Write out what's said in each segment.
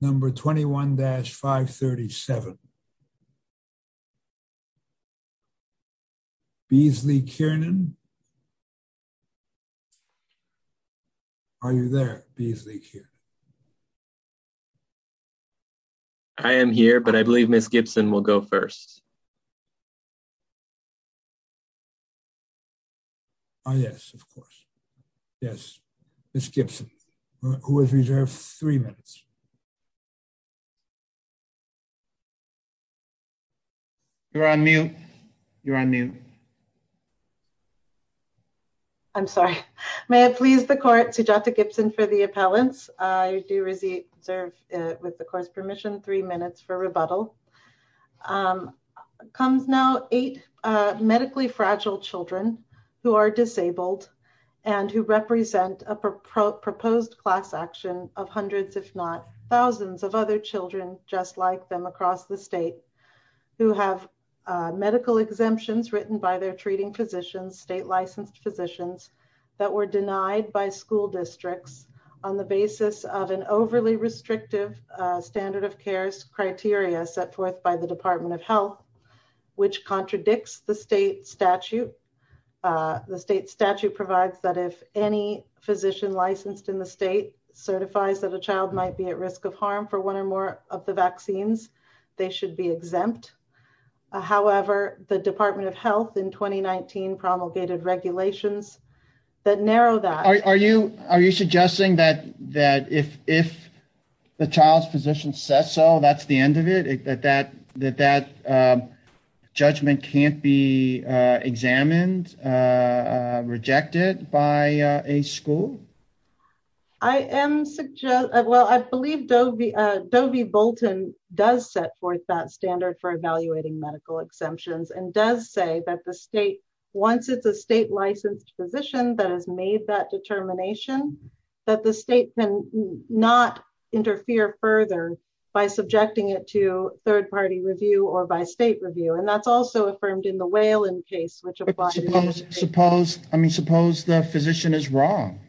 Number 21-537. Beasley Kiernan? Are you there, Beasley Kiernan? I am here, but I believe Ms. Gibson will go first. Yes, of course. Yes, Ms. Gibson, who has reserved three minutes. You're on mute. You're on mute. I'm sorry. May it please the court, Sujata Gibson for the appellants. I do reserve, with the court's permission, three minutes for rebuttal. Thank you. Thank you, counsel. Comes now eight medically fragile children who are disabled and who represent a proposed class action of hundreds, if not thousands of other children, just like them across the state, who have medical exemptions written by their treating physicians, state licensed physicians that were denied by school districts on the basis of an overly restrictive standard of cares criteria set forth by the Department of Health, which contradicts the state statute. The state statute provides that if any physician licensed in the state certifies that a child might be at risk of harm for one or more of the vaccines, they should be exempt. However, the Department of Health in 2019 promulgated regulations that narrow that. Are you suggesting that if the child's physician says so, that's the end of it, that that judgment can't be examined, rejected by a school? I am, well, I believe Dovie Bolton does set forth that standard for evaluating medical exemptions and does say that the state, once it's a state licensed physician that has made that determination, that the state can not interfere further by subjecting it to third party review or by state review. And that's also affirmed in the Whalen case. Suppose, I mean, suppose the physician is wrong.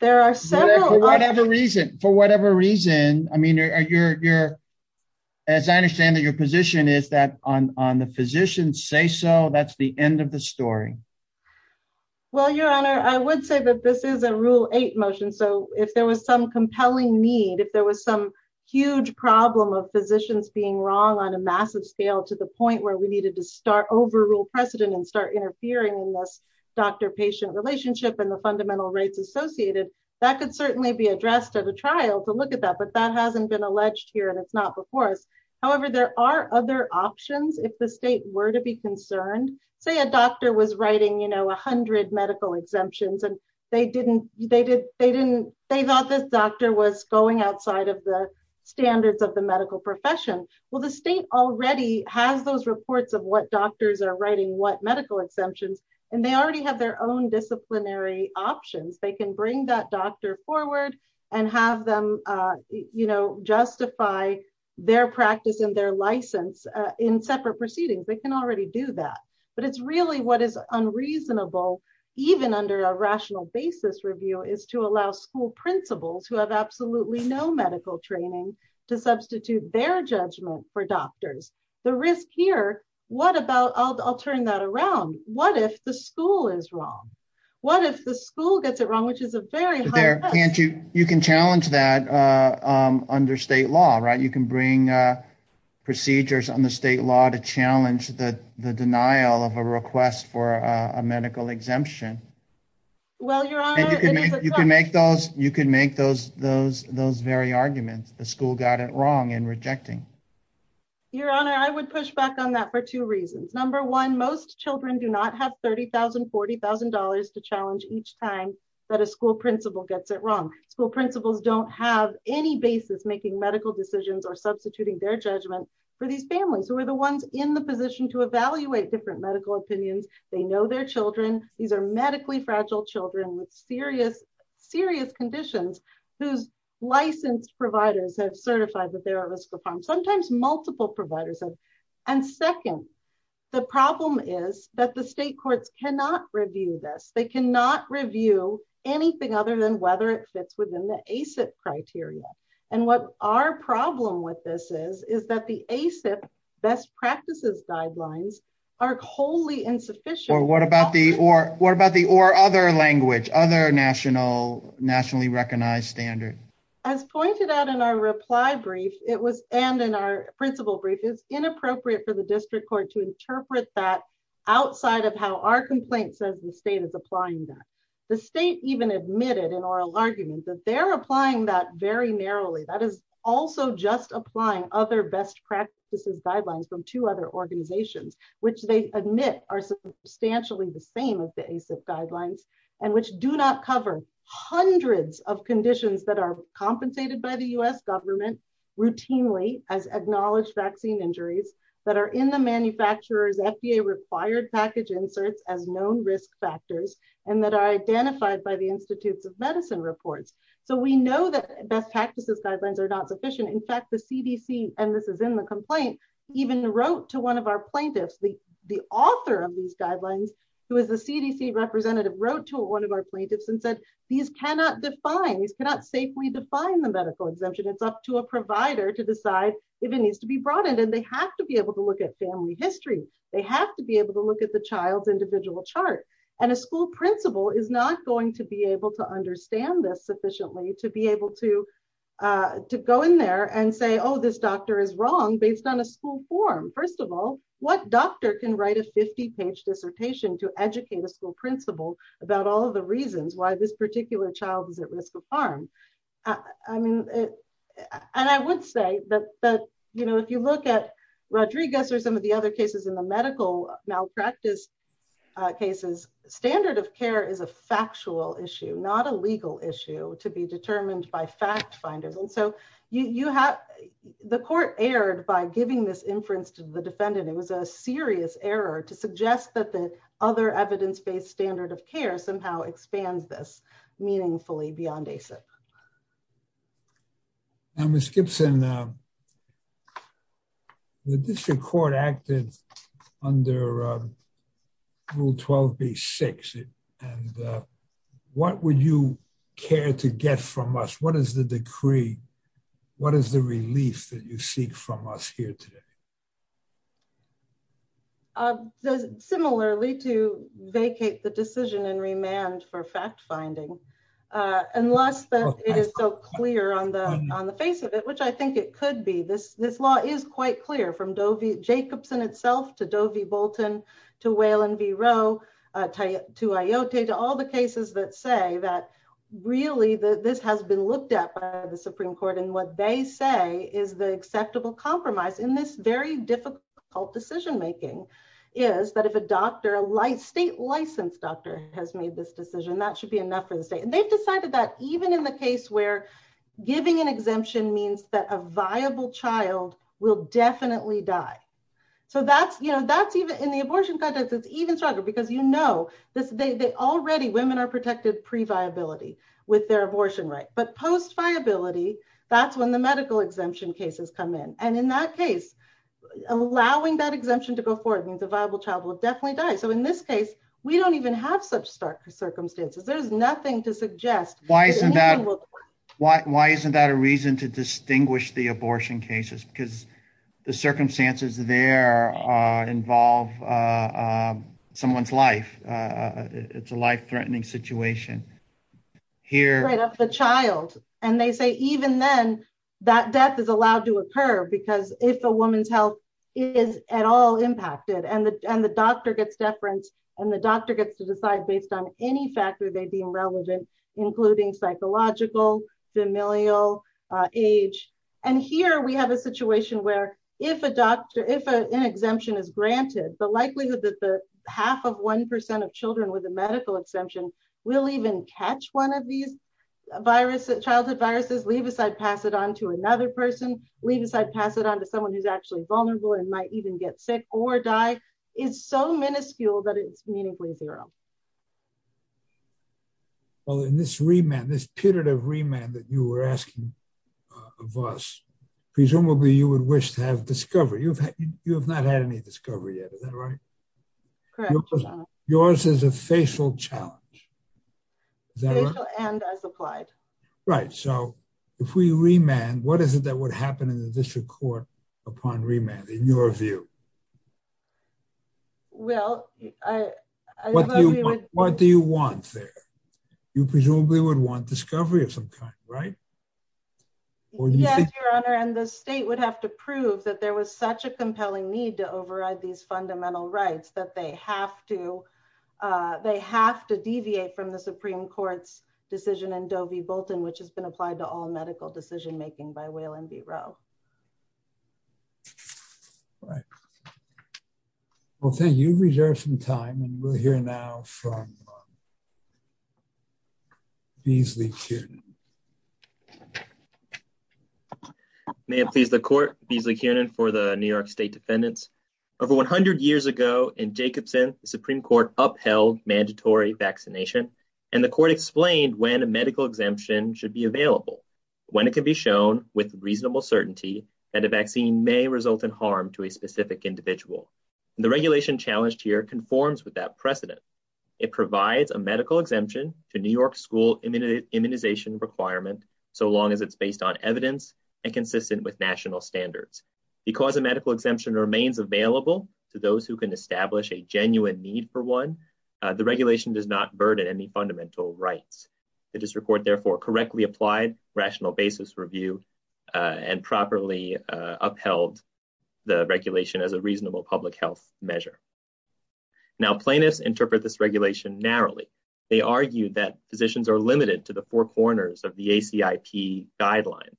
There are several. For whatever reason, for whatever reason, I mean, as I understand it, your position is that on the physicians say so, that's the end of the story. Well, your honor, I would say that this is a rule eight motion. So if there was some compelling need, if there was some huge problem of physicians being wrong on a massive scale to the point where we needed to start overrule precedent and start interfering in this doctor patient relationship and the fundamental rates associated, that could certainly be addressed at a trial to look at that. But that hasn't been alleged here. And it's not before us. However, there are other options if the state were to be concerned, say a doctor was writing, you know, 100 medical exemptions and they didn't, they didn't, they thought this doctor was going outside of the standards of the medical profession. Well, the state already has those reports of what doctors are writing what medical exemptions, and they already have their own disciplinary options they can bring that doctor forward and have them, you know, justify their practice and their license in separate proceedings, they can already do that. But it's really what is unreasonable, even under a rational basis review is to allow school principals who have absolutely no medical training to substitute their judgment for doctors, the risk here. What about I'll turn that around. What if the school is wrong. What if the school gets it wrong, which is a very there, can't you, you can challenge that under state law right you can bring procedures on the state law to challenge the the denial of a request for a medical exemption. Well, you can make those you can make those those those very arguments, the school got it wrong and rejecting. Your Honor, I would push back on that for two reasons. Number one, most children do not have $30,000 $40,000 to challenge each time that a school principal gets it wrong, school principals don't have any basis making medical decisions or substituting their judgment for these families who are the ones in the position to evaluate different medical opinions, they know their children. These are medically fragile children with serious, serious conditions, whose licensed providers have certified that they're And what our problem with this is, is that the ACIP best practices guidelines are wholly insufficient or what about the or what about the or other language other national nationally recognized standard as pointed out in our reply brief, it was, and in our principal brief is inappropriate for the district court to interpret that outside of how our complaint says the state is applying that the state even admitted an oral argument that they're applying that very narrowly that is also just applying other best practices guidelines from two other organizations, which they admit are substantially the same as the ACIP guidelines, and which do not cover hundreds of conditions that are compensated by the US government routinely as acknowledged vaccine injuries that are in the manufacturers FDA required package inserts as known risk factors, and that are identified by the Institutes of Medicine reports. So we know that best practices guidelines are not sufficient. In fact, the CDC, and this is in the complaint, even wrote to one of our plaintiffs the, the author of these guidelines, who is the CDC representative wrote to one of our plaintiffs and said, these cannot define these cannot safely define the medical exemption it's up to a provider to decide if it needs to be brought in and they have to be able to look at family history. They have to be able to look at the child's individual chart, and a school principal is not going to be able to understand this sufficiently to be able to to go in there and say oh this doctor is wrong based on a school form. First of all, what doctor can write a 50 page dissertation to educate a school principal about all the reasons why this particular child is at risk of harm. I mean, and I would say that, but, you know, if you look at Rodriguez or some of the other cases in the medical malpractice cases, standard of care is a factual issue not a legal issue to be determined by fact finders and so you have the court aired by giving this inference to the defendant, it was a serious error to suggest that the other evidence based standard of care somehow expands this meaningfully beyond a set was Gibson. The district court acted under Rule 12 be six. And what would you care to get from us what is the decree. What is the relief that you seek from us here today. Does similarly to vacate the decision and remand for fact finding, unless it is so clear on the, on the face of it which I think it could be this, this law is quite clear from Dovey Jacobson itself to Dovey Bolton to whale and V ro tie to Iota to all the decision making is that if a doctor a light state licensed doctor has made this decision that should be enough for the state and they've decided that even in the case where giving an exemption means that a viable child will definitely die. So that's, you know, that's even in the abortion contest it's even stronger because you know this they already women are protected pre viability with their abortion right but post viability. That's when the medical exemption cases come in, and in that case, allowing that exemption to go forward means a viable child will definitely die so in this case, we don't even have such stark circumstances there's nothing to suggest, why isn't that. Why isn't that a reason to distinguish the abortion cases because the circumstances there involve someone's life. It's a life threatening situation. Here, the child, and they say, even then, that death is allowed to occur because if a woman's health is at all impacted and the, and the doctor gets deference, and the doctor gets to decide based on any factor they deem relevant, including psychological familial age. And here we have a situation where if a doctor if an exemption is granted the likelihood that the half of 1% of children with a medical exemption will even catch one of these viruses childhood viruses leave aside pass it on to another person, leave aside pass it on to someone who's actually vulnerable and might even get sick or die is so minuscule that it's meaningfully zero. Well in this remand this period of remand that you were asking of us. Presumably you would wish to have discovery you've had you have not had any discovery yet is that right. Correct. Yours is a facial challenge. And as applied. Right. So, if we remand what is it that would happen in the district court upon remand in your view. Well, I. What do you want there. You presumably would want discovery of some kind, right. Your Honor and the state would have to prove that there was such a compelling need to override these fundamental rights that they have to. They have to deviate from the Supreme Court's decision and Dovey Bolton which has been applied to all medical decision making by whaling the row. Right. Well thank you reserve some time and we're here now from Beasley. May it please the court Beasley cannon for the New York State defendants over 100 years ago in Jacobson Supreme Court upheld mandatory vaccination, and the court explained when a medical exemption should be available. When it can be shown with reasonable certainty that a vaccine may result in harm to a specific individual. The regulation challenged here conforms with that precedent. It provides a medical exemption to New York school immunity immunization requirement. So long as it's based on evidence and consistent with national standards, because a medical exemption remains available to those who can establish a genuine need for one. The regulation does not burden any fundamental rights. It is report therefore correctly applied rational basis review and properly upheld the regulation as a reasonable public health measure. Now plaintiffs interpret this regulation narrowly. They argue that physicians are limited to the four corners of the AC IP guidelines,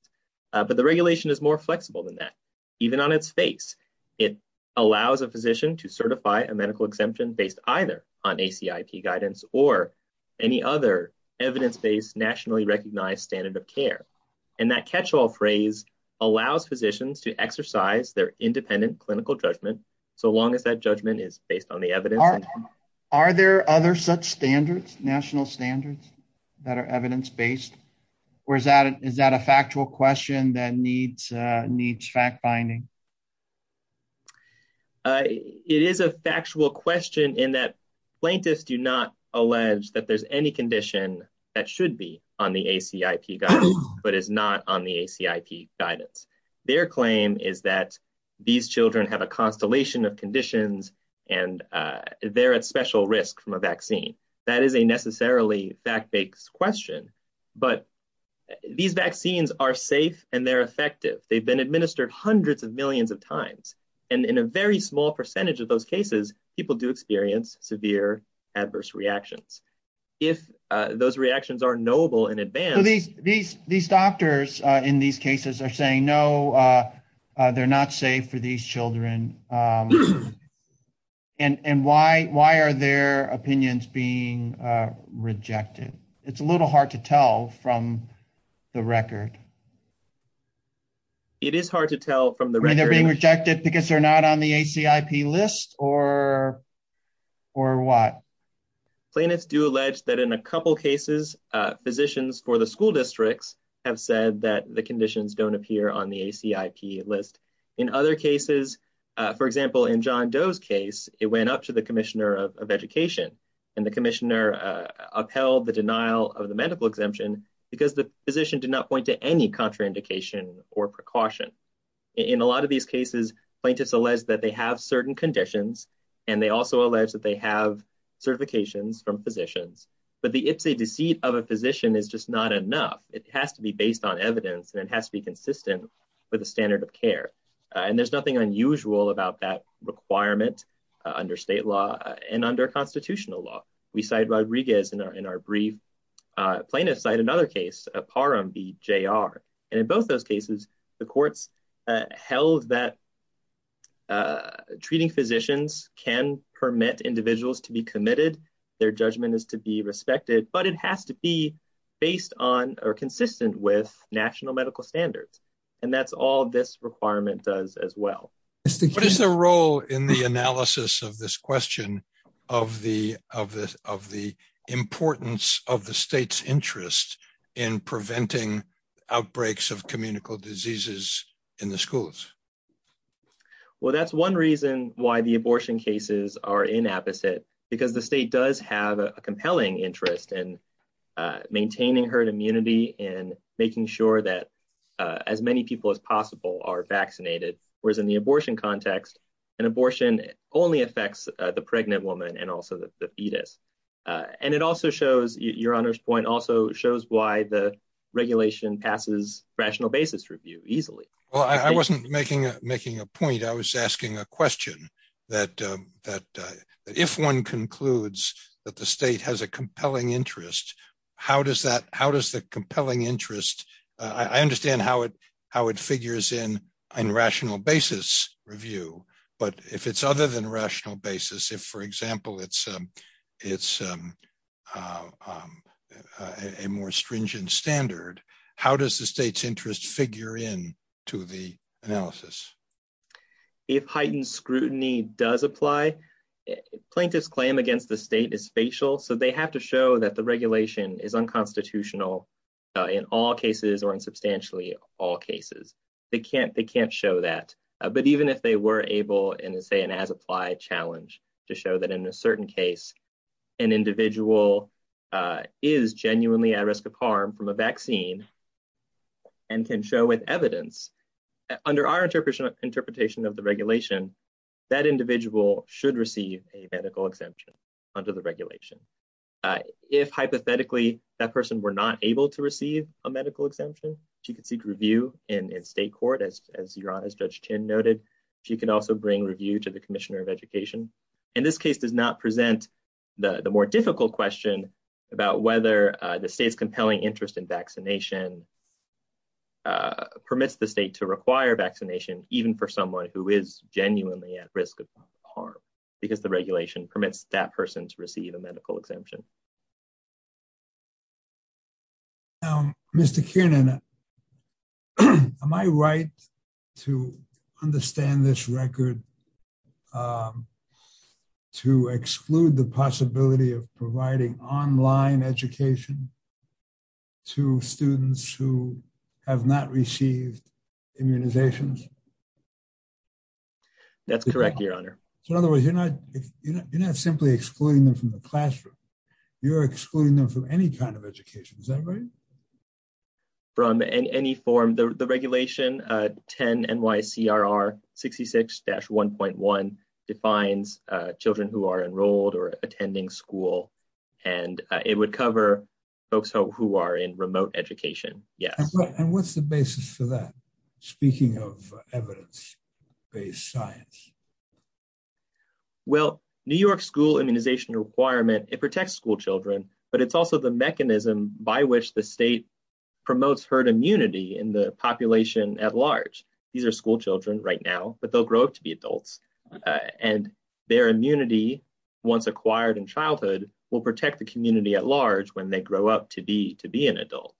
but the regulation is more flexible than that, even on its face. It allows a physician to certify a medical exemption based either on AC IP guidance or any other evidence based nationally recognized standard of care. And that catch all phrase allows physicians to exercise their independent clinical judgment. So long as that judgment is based on the evidence. Are there other such standards national standards that are evidence based, or is that is that a factual question that needs needs fact finding. It is a factual question in that plaintiffs do not allege that there's any condition that should be on the AC IP guy, but is not on the AC IP guidance, their claim is that these children have a constellation of conditions, and they're at special risk from a vaccine. That is a necessarily fact bakes question, but these vaccines are safe, and they're effective, they've been administered hundreds of millions of times, and in a very small percentage of those cases, people do experience severe adverse reactions. If those reactions are noble in advance. These, these, these doctors in these cases are saying no. They're not safe for these children. And why, why are their opinions being rejected. It's a little hard to tell from the record. It is hard to tell from the rate they're being rejected because they're not on the AC IP list, or, or what planets do allege that in a couple cases, physicians for the school districts have said that the conditions don't appear on the AC IP list. In other cases, for example in john does case, it went up to the Commissioner of Education, and the commissioner upheld the denial of the medical exemption, because the position did not point to any contraindication or precaution. In a lot of these cases, plaintiffs alleged that they have certain conditions, and they also alleged that they have certifications from physicians, but the ipsy deceit of a physician is just not enough, it has to be based on evidence and it has to be consistent with the standard of care. And there's nothing unusual about that requirement under state law, and under constitutional law, we side Rodriguez in our in our brief plaintiff side another case, a par on the Jr. And in both those cases, the courts held that treating physicians can permit individuals to be committed, their judgment is to be respected but it has to be based on are consistent with national medical standards. And that's all this requirement does as well. What is the role in the analysis of this question of the, of the, of the importance of the state's interest in preventing outbreaks of communicable diseases in the schools. Well, that's one reason why the abortion cases are in opposite, because the state does have a compelling interest in maintaining herd immunity and making sure that as many people as possible are vaccinated, whereas in the abortion context and abortion only affects the pregnant woman and also the fetus. And it also shows your honor's point also shows why the regulation passes rational basis review easily. Well, I wasn't making making a point I was asking a question that, that, if one concludes that the state has a compelling interest. How does that, how does the compelling interest. I understand how it how it figures in on rational basis review, but if it's other than rational basis if for example it's, it's a more stringent standard. How does the state's interest figure in to the analysis. If heightened scrutiny does apply plaintiffs claim against the state is facial so they have to show that the regulation is unconstitutional in all cases or in substantially all cases, they can't they can't show that. But even if they were able and say and as applied challenge to show that in a certain case, an individual is genuinely at risk of harm from a vaccine and can show with evidence under our interpretation of the regulation that individual should receive a medical exemption under the regulation. If hypothetically, that person were not able to receive a medical exemption, you can seek review in state court as as your honest judge noted, you can also bring review to the Commissioner of Education. In this case does not present the more difficult question about whether the state's compelling interest in vaccination. Permits the state to require vaccination, even for someone who is genuinely at risk of harm, because the regulation permits that person to receive a medical exemption. Mr. Am I right to understand this record to exclude the possibility of providing online education to students who have not received immunizations. That's correct, Your Honor. So in other words, you're not, you're not simply excluding them from the classroom. You're excluding them from any kind of education is that right. From any form the regulation 10 and why CRR 66 dash 1.1 defines children who are enrolled or attending school, and it would cover folks who are in remote education. And what's the basis for that. Speaking of evidence based science. Well, New York school immunization requirement, it protects school children, but it's also the mechanism by which the state promotes herd immunity in the population at large. These are school children right now, but they'll grow up to be adults, and their immunity. Once acquired in childhood will protect the community at large when they grow up to be to be an adult.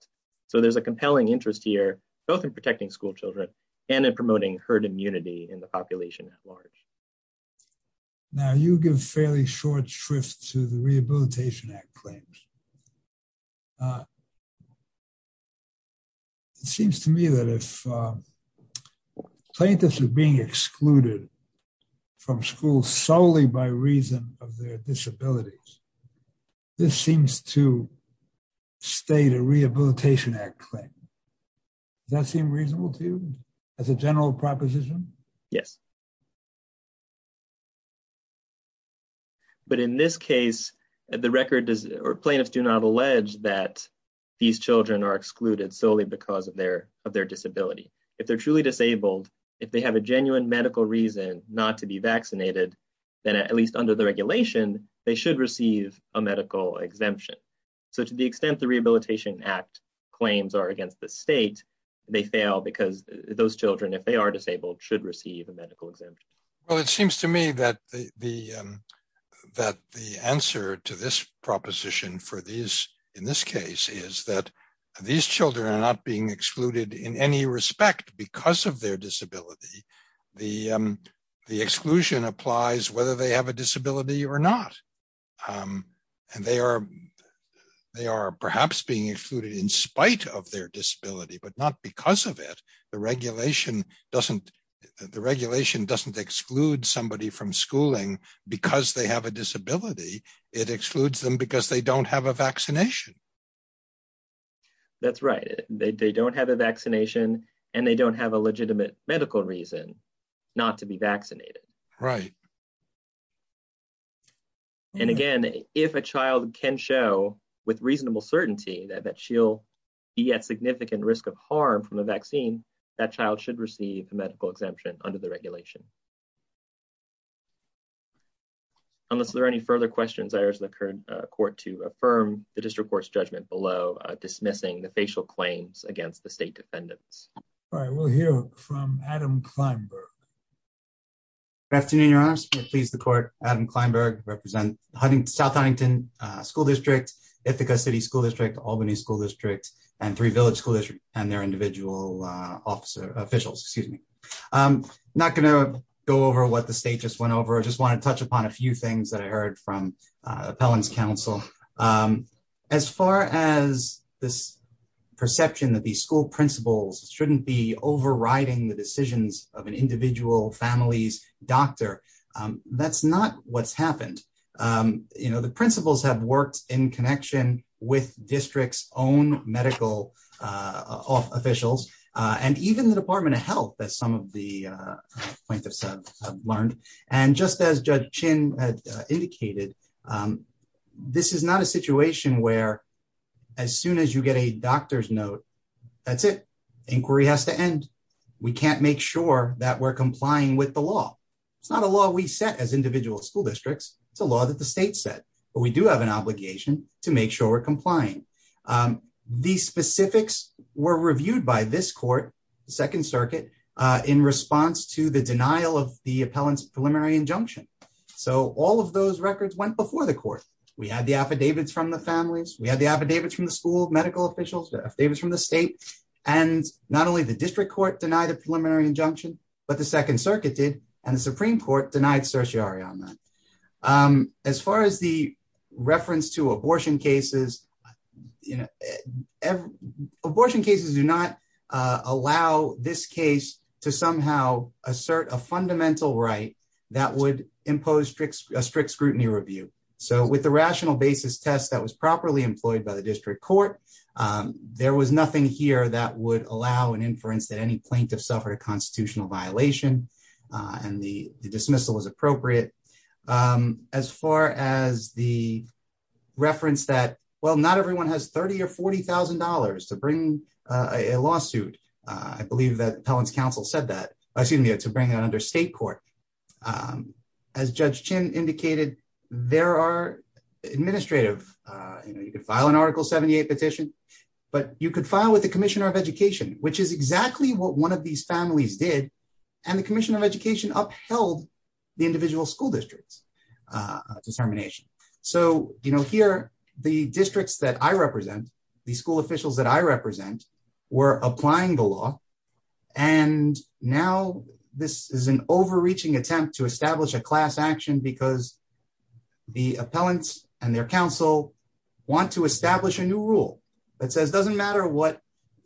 So there's a compelling interest here, both in protecting school children, and in promoting herd immunity in the population at large. Now you give fairly short shrift to the Rehabilitation Act claims. It seems to me that if plaintiffs are being excluded from school solely by reason of their disabilities. This seems to state a Rehabilitation Act claim that seem reasonable to you as a general proposition. Yes. But in this case, the record does or plaintiffs do not allege that these children are excluded solely because of their, of their disability. If they're truly disabled. If they have a genuine medical reason not to be vaccinated, then at least under the regulation, they should receive a medical exemption. So to the extent the Rehabilitation Act claims are against the state, they fail because those children if they are disabled should receive a medical exemption. Well, it seems to me that the, that the answer to this proposition for these, in this case is that these children are not being excluded in any respect because of their disability. The exclusion applies whether they have a disability or not. And they are, they are perhaps being excluded in spite of their disability but not because of it. The regulation doesn't, the regulation doesn't exclude somebody from schooling, because they have a disability, it excludes them because they don't have a vaccination. That's right. They don't have a vaccination, and they don't have a legitimate medical reason not to be vaccinated. Right. And again, if a child can show with reasonable certainty that that she'll be at significant risk of harm from the vaccine, that child should receive a medical exemption under the regulation. Unless there are any further questions, I urge the current court to affirm the district court's judgment below dismissing the facial claims against the state defendants. All right, we'll hear from Adam Kleinberg. Good afternoon, Your Honor. I'm pleased the court, Adam Kleinberg, represent South Huntington School District, Ithaca City School District, Albany School District, and Three Village School District, and their individual officer, officials, excuse me. I'm not going to go over what the state just went over, I just want to touch upon a few things that I heard from appellant's counsel. As far as this perception that the school principals shouldn't be overriding the decisions of an individual family's doctor, that's not what's happened. The principals have worked in connection with district's own medical officials, and even the Department of Health, as some of the plaintiffs have learned. And just as Judge Chin had indicated, this is not a situation where as soon as you get a doctor's note, that's it. Inquiry has to end. We can't make sure that we're complying with the law. It's not a law we set as individual school districts, it's a law that the state set, but we do have an obligation to make sure we're complying. These specifics were reviewed by this court, the Second Circuit, in response to the denial of the appellant's preliminary injunction. So all of those records went before the court. We had the affidavits from the families, we had the affidavits from the school medical officials, the affidavits from the state, and not only the district court denied a preliminary injunction, but the Second Circuit did, and the Supreme Court denied certiorari on that. As far as the reference to abortion cases, abortion cases do not allow this case to somehow assert a fundamental right that would impose a strict scrutiny review. So with the rational basis test that was properly employed by the district court, there was nothing here that would allow an inference that any plaintiff suffered a constitutional violation and the dismissal was appropriate. As far as the reference that, well, not everyone has $30,000 or $40,000 to bring a lawsuit, I believe that appellant's counsel said that, excuse me, to bring it under state court. As Judge Chin indicated, there are administrative, you know, you could file an Article 78 petition, but you could file with the Commissioner of Education, which is exactly what one of these families did, and the Commissioner of Education upheld the individual school district's determination. So, you know, here, the districts that I represent, the school officials that I represent, were applying the law, and now this is an overreaching attempt to establish a class action because the appellants and their counsel want to establish a new rule that says, it doesn't matter what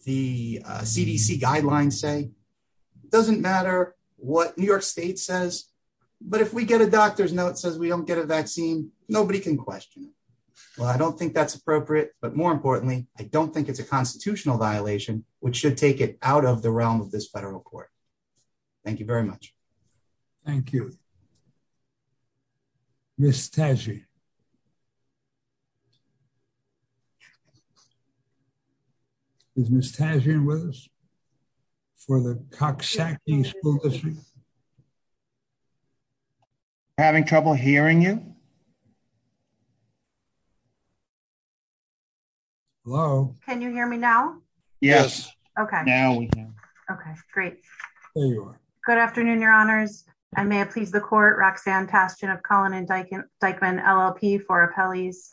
the CDC guidelines say, it doesn't matter what New York State says, but if we get a doctor's note that says we don't get a vaccine, nobody can question it. Well, I don't think that's appropriate, but more importantly, I don't think it's a constitutional violation, which should take it out of the realm of this federal court. Thank you very much. Thank you. Ms. Taggi. Is Ms. Taggi with us? For the Coxsackie School District? Having trouble hearing you? Hello? Can you hear me now? Yes. Okay. Now we can. Okay, great. There you are. Good afternoon, your honors, and may it please the court, Roxanne Tastian of Collin and Dyckman LLP for appellees,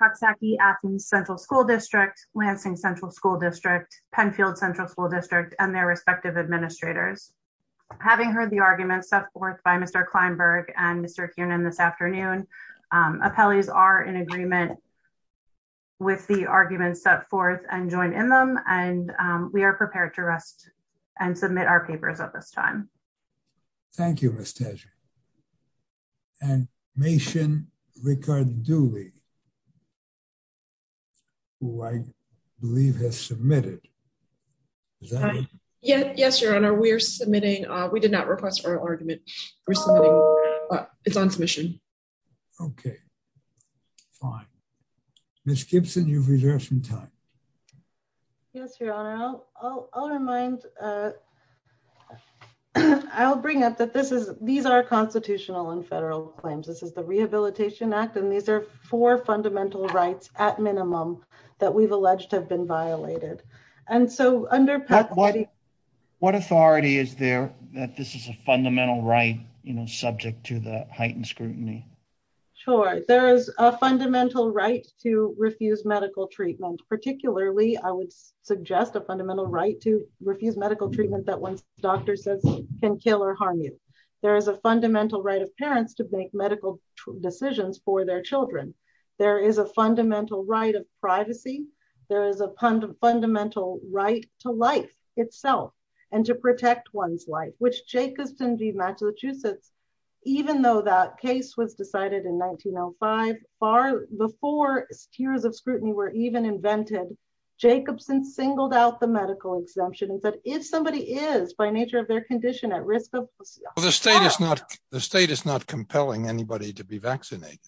Coxsackie-Athens Central School District, Lansing Central School District, Penfield Central School District, and their respective administrators. Having heard the arguments set forth by Mr. Kleinberg and Mr. Kiernan this afternoon, appellees are in agreement with the arguments set forth and join in them, and we are prepared to rest and submit our papers at this time. Thank you, Ms. Taggi. And Mason Rickard-Dooley, who I believe has submitted. Yes, your honor, we're submitting. We did not request for an argument. We're submitting. It's on submission. Okay. Fine. Ms. Gibson, you've reserved some time. Yes, your honor. I'll remind. I'll bring up that these are constitutional and federal claims. This is the Rehabilitation Act, and these are four fundamental rights, at minimum, that we've alleged have been violated. And so under… What authority is there that this is a fundamental right, you know, subject to the heightened scrutiny? Sure. There is a fundamental right to refuse medical treatment, particularly I would suggest a fundamental right to refuse medical treatment that one's doctor says can kill or harm you. There is a fundamental right of parents to make medical decisions for their children. There is a fundamental right of privacy. There is a fundamental right to life itself and to protect one's life, which Jacobson v. Massachusetts, even though that case was decided in 1905, far before tiers of scrutiny were even invented, Jacobson singled out the medical exemption and said, if somebody is, by nature of their condition, at risk of… The state is not compelling anybody to be vaccinated.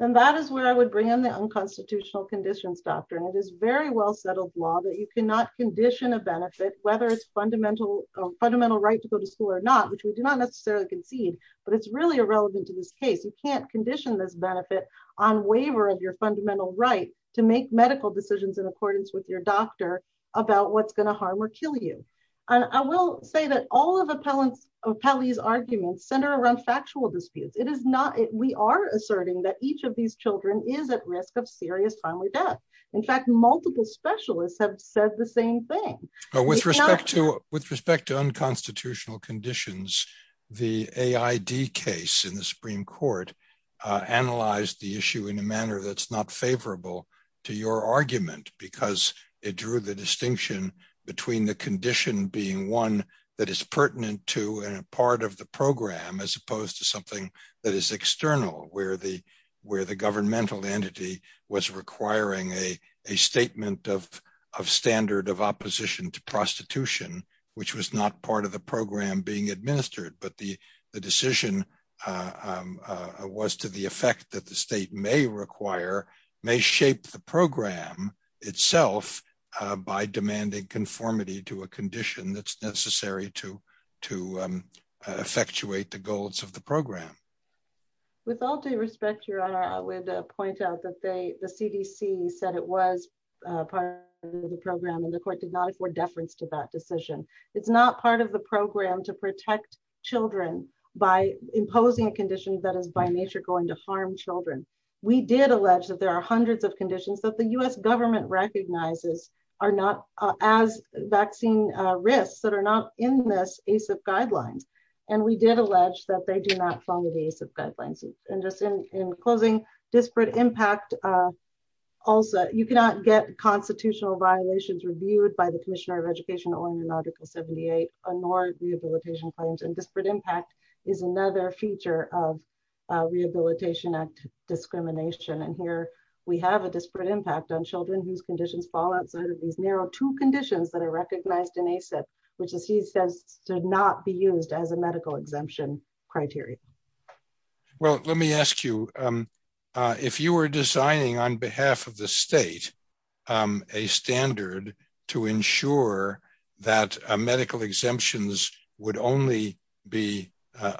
And that is where I would bring in the unconstitutional conditions doctrine. It is very well settled law that you cannot condition a benefit, whether it's fundamental right to go to school or not, which we do not necessarily concede, but it's really irrelevant to this case. You can't condition this benefit on waiver of your fundamental right to make medical decisions in accordance with your doctor about what's going to harm or kill you. And I will say that all of Appellee's arguments center around factual disputes. It is not… We are asserting that each of these children is at risk of serious timely death. In fact, multiple specialists have said the same thing. With respect to unconstitutional conditions, the AID case in the Supreme Court analyzed the issue in a manner that's not favorable to your argument, because it drew the distinction between the condition being one that is pertinent to and a part of the program, as opposed to something that is external, where the governmental entity was requiring a statement of standard of opposition. Which was not part of the program being administered, but the decision was to the effect that the state may require, may shape the program itself by demanding conformity to a condition that's necessary to effectuate the goals of the program. With all due respect, Your Honor, I would point out that the CDC said it was part of the program and the court did not afford deference to that decision. It's not part of the program to protect children by imposing a condition that is by nature going to harm children. We did allege that there are hundreds of conditions that the U.S. government recognizes are not as vaccine risks that are not in this ACIP guidelines. And we did allege that they do not follow the ACIP guidelines. And just in closing, disparate impact. Also, you cannot get constitutional violations reviewed by the Commissioner of Education or in the article 78, nor rehabilitation claims and disparate impact is another feature of Rehabilitation Act discrimination and here we have a disparate impact on children whose conditions fall outside of these narrow two conditions that are recognized in ACIP, which is he says to not be used as a medical exemption criteria. Well, let me ask you, if you were designing on behalf of the state a standard to ensure that medical exemptions would only be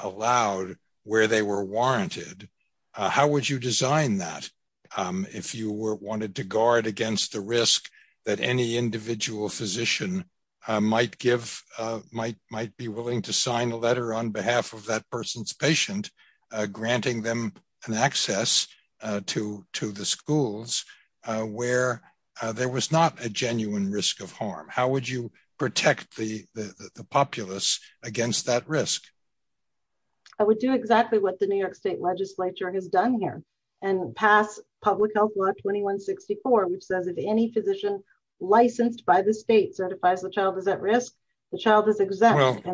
allowed where they were warranted, how would you design that? If you were wanted to guard against the risk that any individual physician might give might might be willing to sign a letter on behalf of that person's patient, granting them an access to to the schools, where there was not a genuine risk of harm, how would you protect the populace against that risk? I would do exactly what the New York State Legislature has done here and pass public health law 2164, which says if any physician licensed by the state certifies the child is at risk, the child is exempt.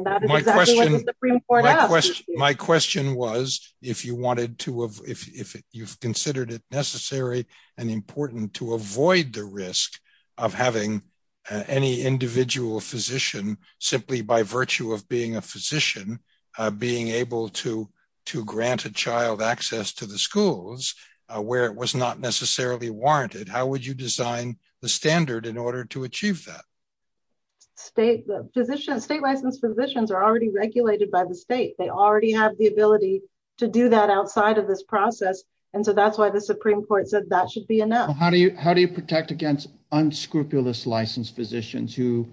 My question was, if you wanted to, if you've considered it necessary and important to avoid the risk of having any individual physician, simply by virtue of being a physician, being able to to grant a child access to the schools, where it was not necessarily warranted, how would you design the standard in order to achieve that? State physicians, state licensed physicians are already regulated by the state. They already have the ability to do that outside of this process. And so that's why the Supreme Court said that should be enough. How do you protect against unscrupulous licensed physicians who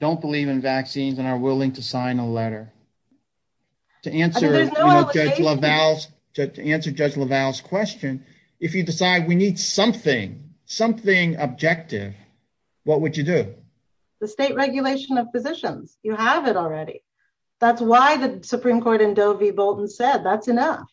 don't believe in vaccines and are willing to sign a letter? To answer Judge Lavalle's question, if you decide we need something, something objective, what would you do? The state regulation of physicians, you have it already. That's why the Supreme Court in Doe v. Bolton said that's enough.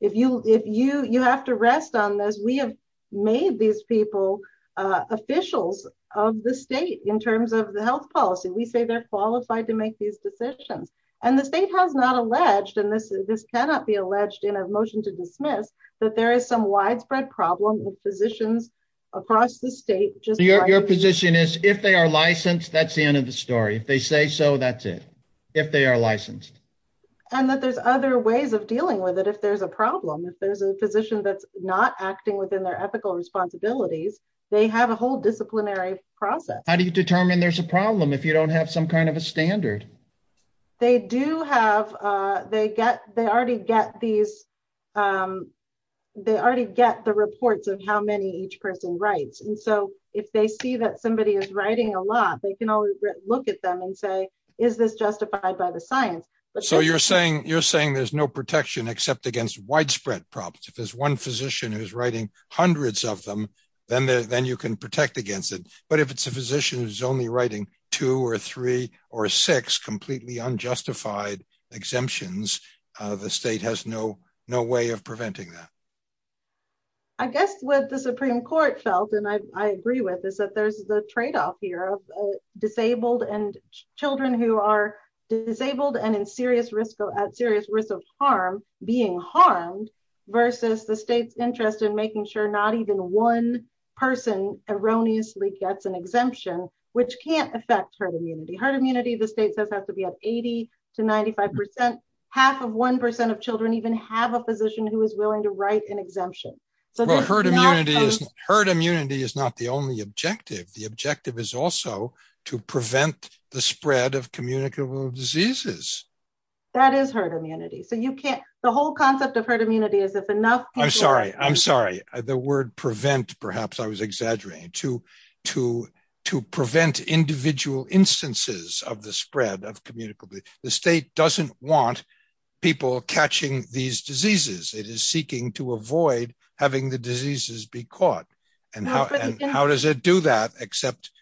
If you have to rest on this, we have made these people officials of the state in terms of the health policy. We say they're qualified to make these decisions. And the state has not alleged, and this cannot be alleged in a motion to dismiss, that there is some widespread problem with physicians across the state. Your position is if they are licensed, that's the end of the story. If they say so, that's it. If they are licensed. And that there's other ways of dealing with it if there's a problem. If there's a physician that's not acting within their ethical responsibilities, they have a whole disciplinary process. How do you determine there's a problem if you don't have some kind of a standard? They already get the reports of how many each person writes. And so if they see that somebody is writing a lot, they can always look at them and say, is this justified by the science? So you're saying there's no protection except against widespread problems. If there's one physician who's writing hundreds of them, then you can protect against it. But if it's a physician who's only writing two or three or six completely unjustified exemptions, the state has no way of preventing that. I guess what the Supreme Court felt, and I agree with, is that there's the tradeoff here of disabled and children who are disabled and at serious risk of harm being harmed versus the state's interest in making sure not even one person erroneously gets an exemption, which can't affect herd immunity. Herd immunity, the state says, has to be at 80 to 95%. Half of 1% of children even have a physician who is willing to write an exemption. Herd immunity is not the only objective. The objective is also to prevent the spread of communicable diseases. That is herd immunity. So you can't, the whole concept of herd immunity is if enough people are- I'm sorry, I'm sorry. The word prevent, perhaps I was exaggerating, to prevent individual instances of the spread of communicable diseases. The state doesn't want people catching these diseases. It is seeking to avoid having the diseases be caught. And how does it do that except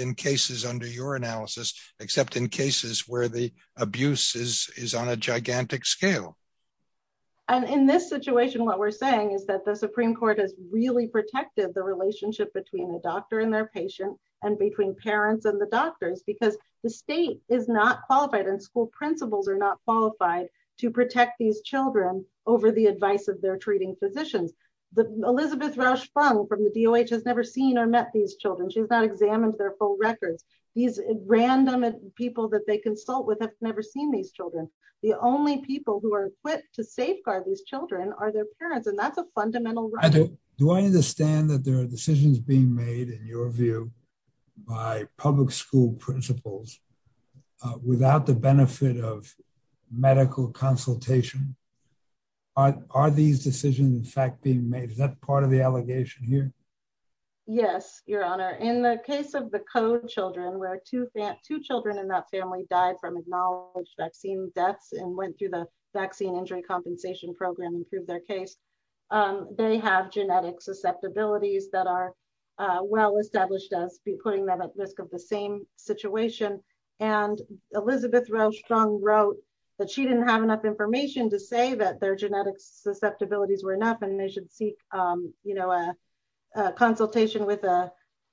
in cases under your analysis, except in cases where the abuse is on a gigantic scale? And in this situation, what we're saying is that the Supreme Court has really protected the relationship between the doctor and their patient and between parents and the doctors because the state is not qualified and school principals are not qualified to protect these children over the advice of their treating physicians. Elizabeth Rausch-Fung from the DOH has never seen or met these children. She's not examined their full records. These random people that they consult with have never seen these children. The only people who are equipped to safeguard these children are their parents, and that's a fundamental right. Do I understand that there are decisions being made, in your view, by public school principals without the benefit of medical consultation? Are these decisions in fact being made? Is that part of the allegation here? Yes, Your Honor. In the case of the Code children, where two children in that family died from acknowledged vaccine deaths and went through the vaccine injury compensation program and proved their case, they have genetic susceptibilities that are well established as putting them at risk of the same situation. And Elizabeth Rausch-Fung wrote that she didn't have enough information to say that their genetic susceptibilities were enough and they should seek, you know, a consultation with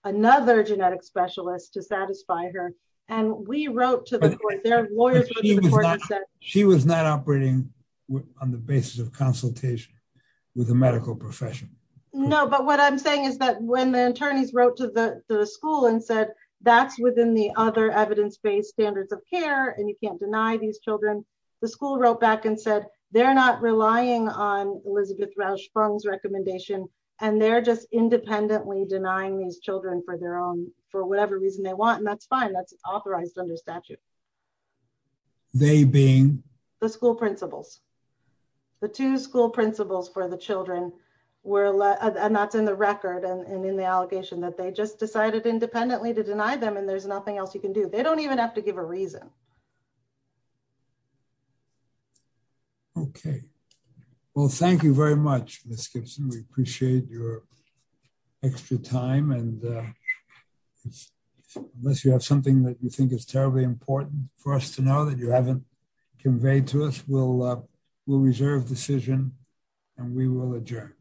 another genetic specialist to satisfy her. And we wrote to the court, their lawyers wrote to the court. She was not operating on the basis of consultation with a medical profession. No, but what I'm saying is that when the attorneys wrote to the school and said, that's within the other evidence-based standards of care and you can't deny these children, the school wrote back and said, they're not relying on Elizabeth Rausch-Fung's recommendation, and they're just independently denying these children for their own, for whatever reason they want. And that's fine. That's authorized under statute. They being? The school principals. The two school principals for the children were, and that's in the record and in the allegation that they just decided independently to deny them and there's nothing else you can do. They don't even have to give a reason. Okay. Well, thank you very much, Ms. Gibson. We appreciate your extra time and unless you have something that you think is terribly important for us to know that you haven't conveyed to us, we'll reserve decision and we will adjourn.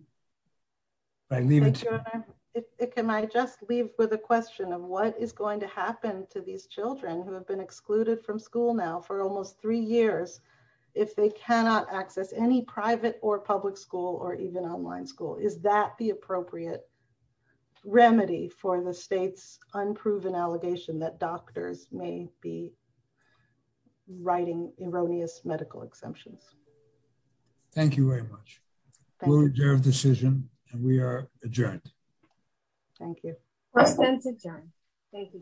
Can I just leave with a question of what is going to happen to these children who have been excluded from school now for almost three years if they cannot access any private or public school or even online school? Is that the appropriate remedy for the state's unproven allegation that doctors may be writing erroneous medical exemptions? Thank you very much. We'll reserve decision and we are adjourned. Thank you. Questions adjourned. Thank you.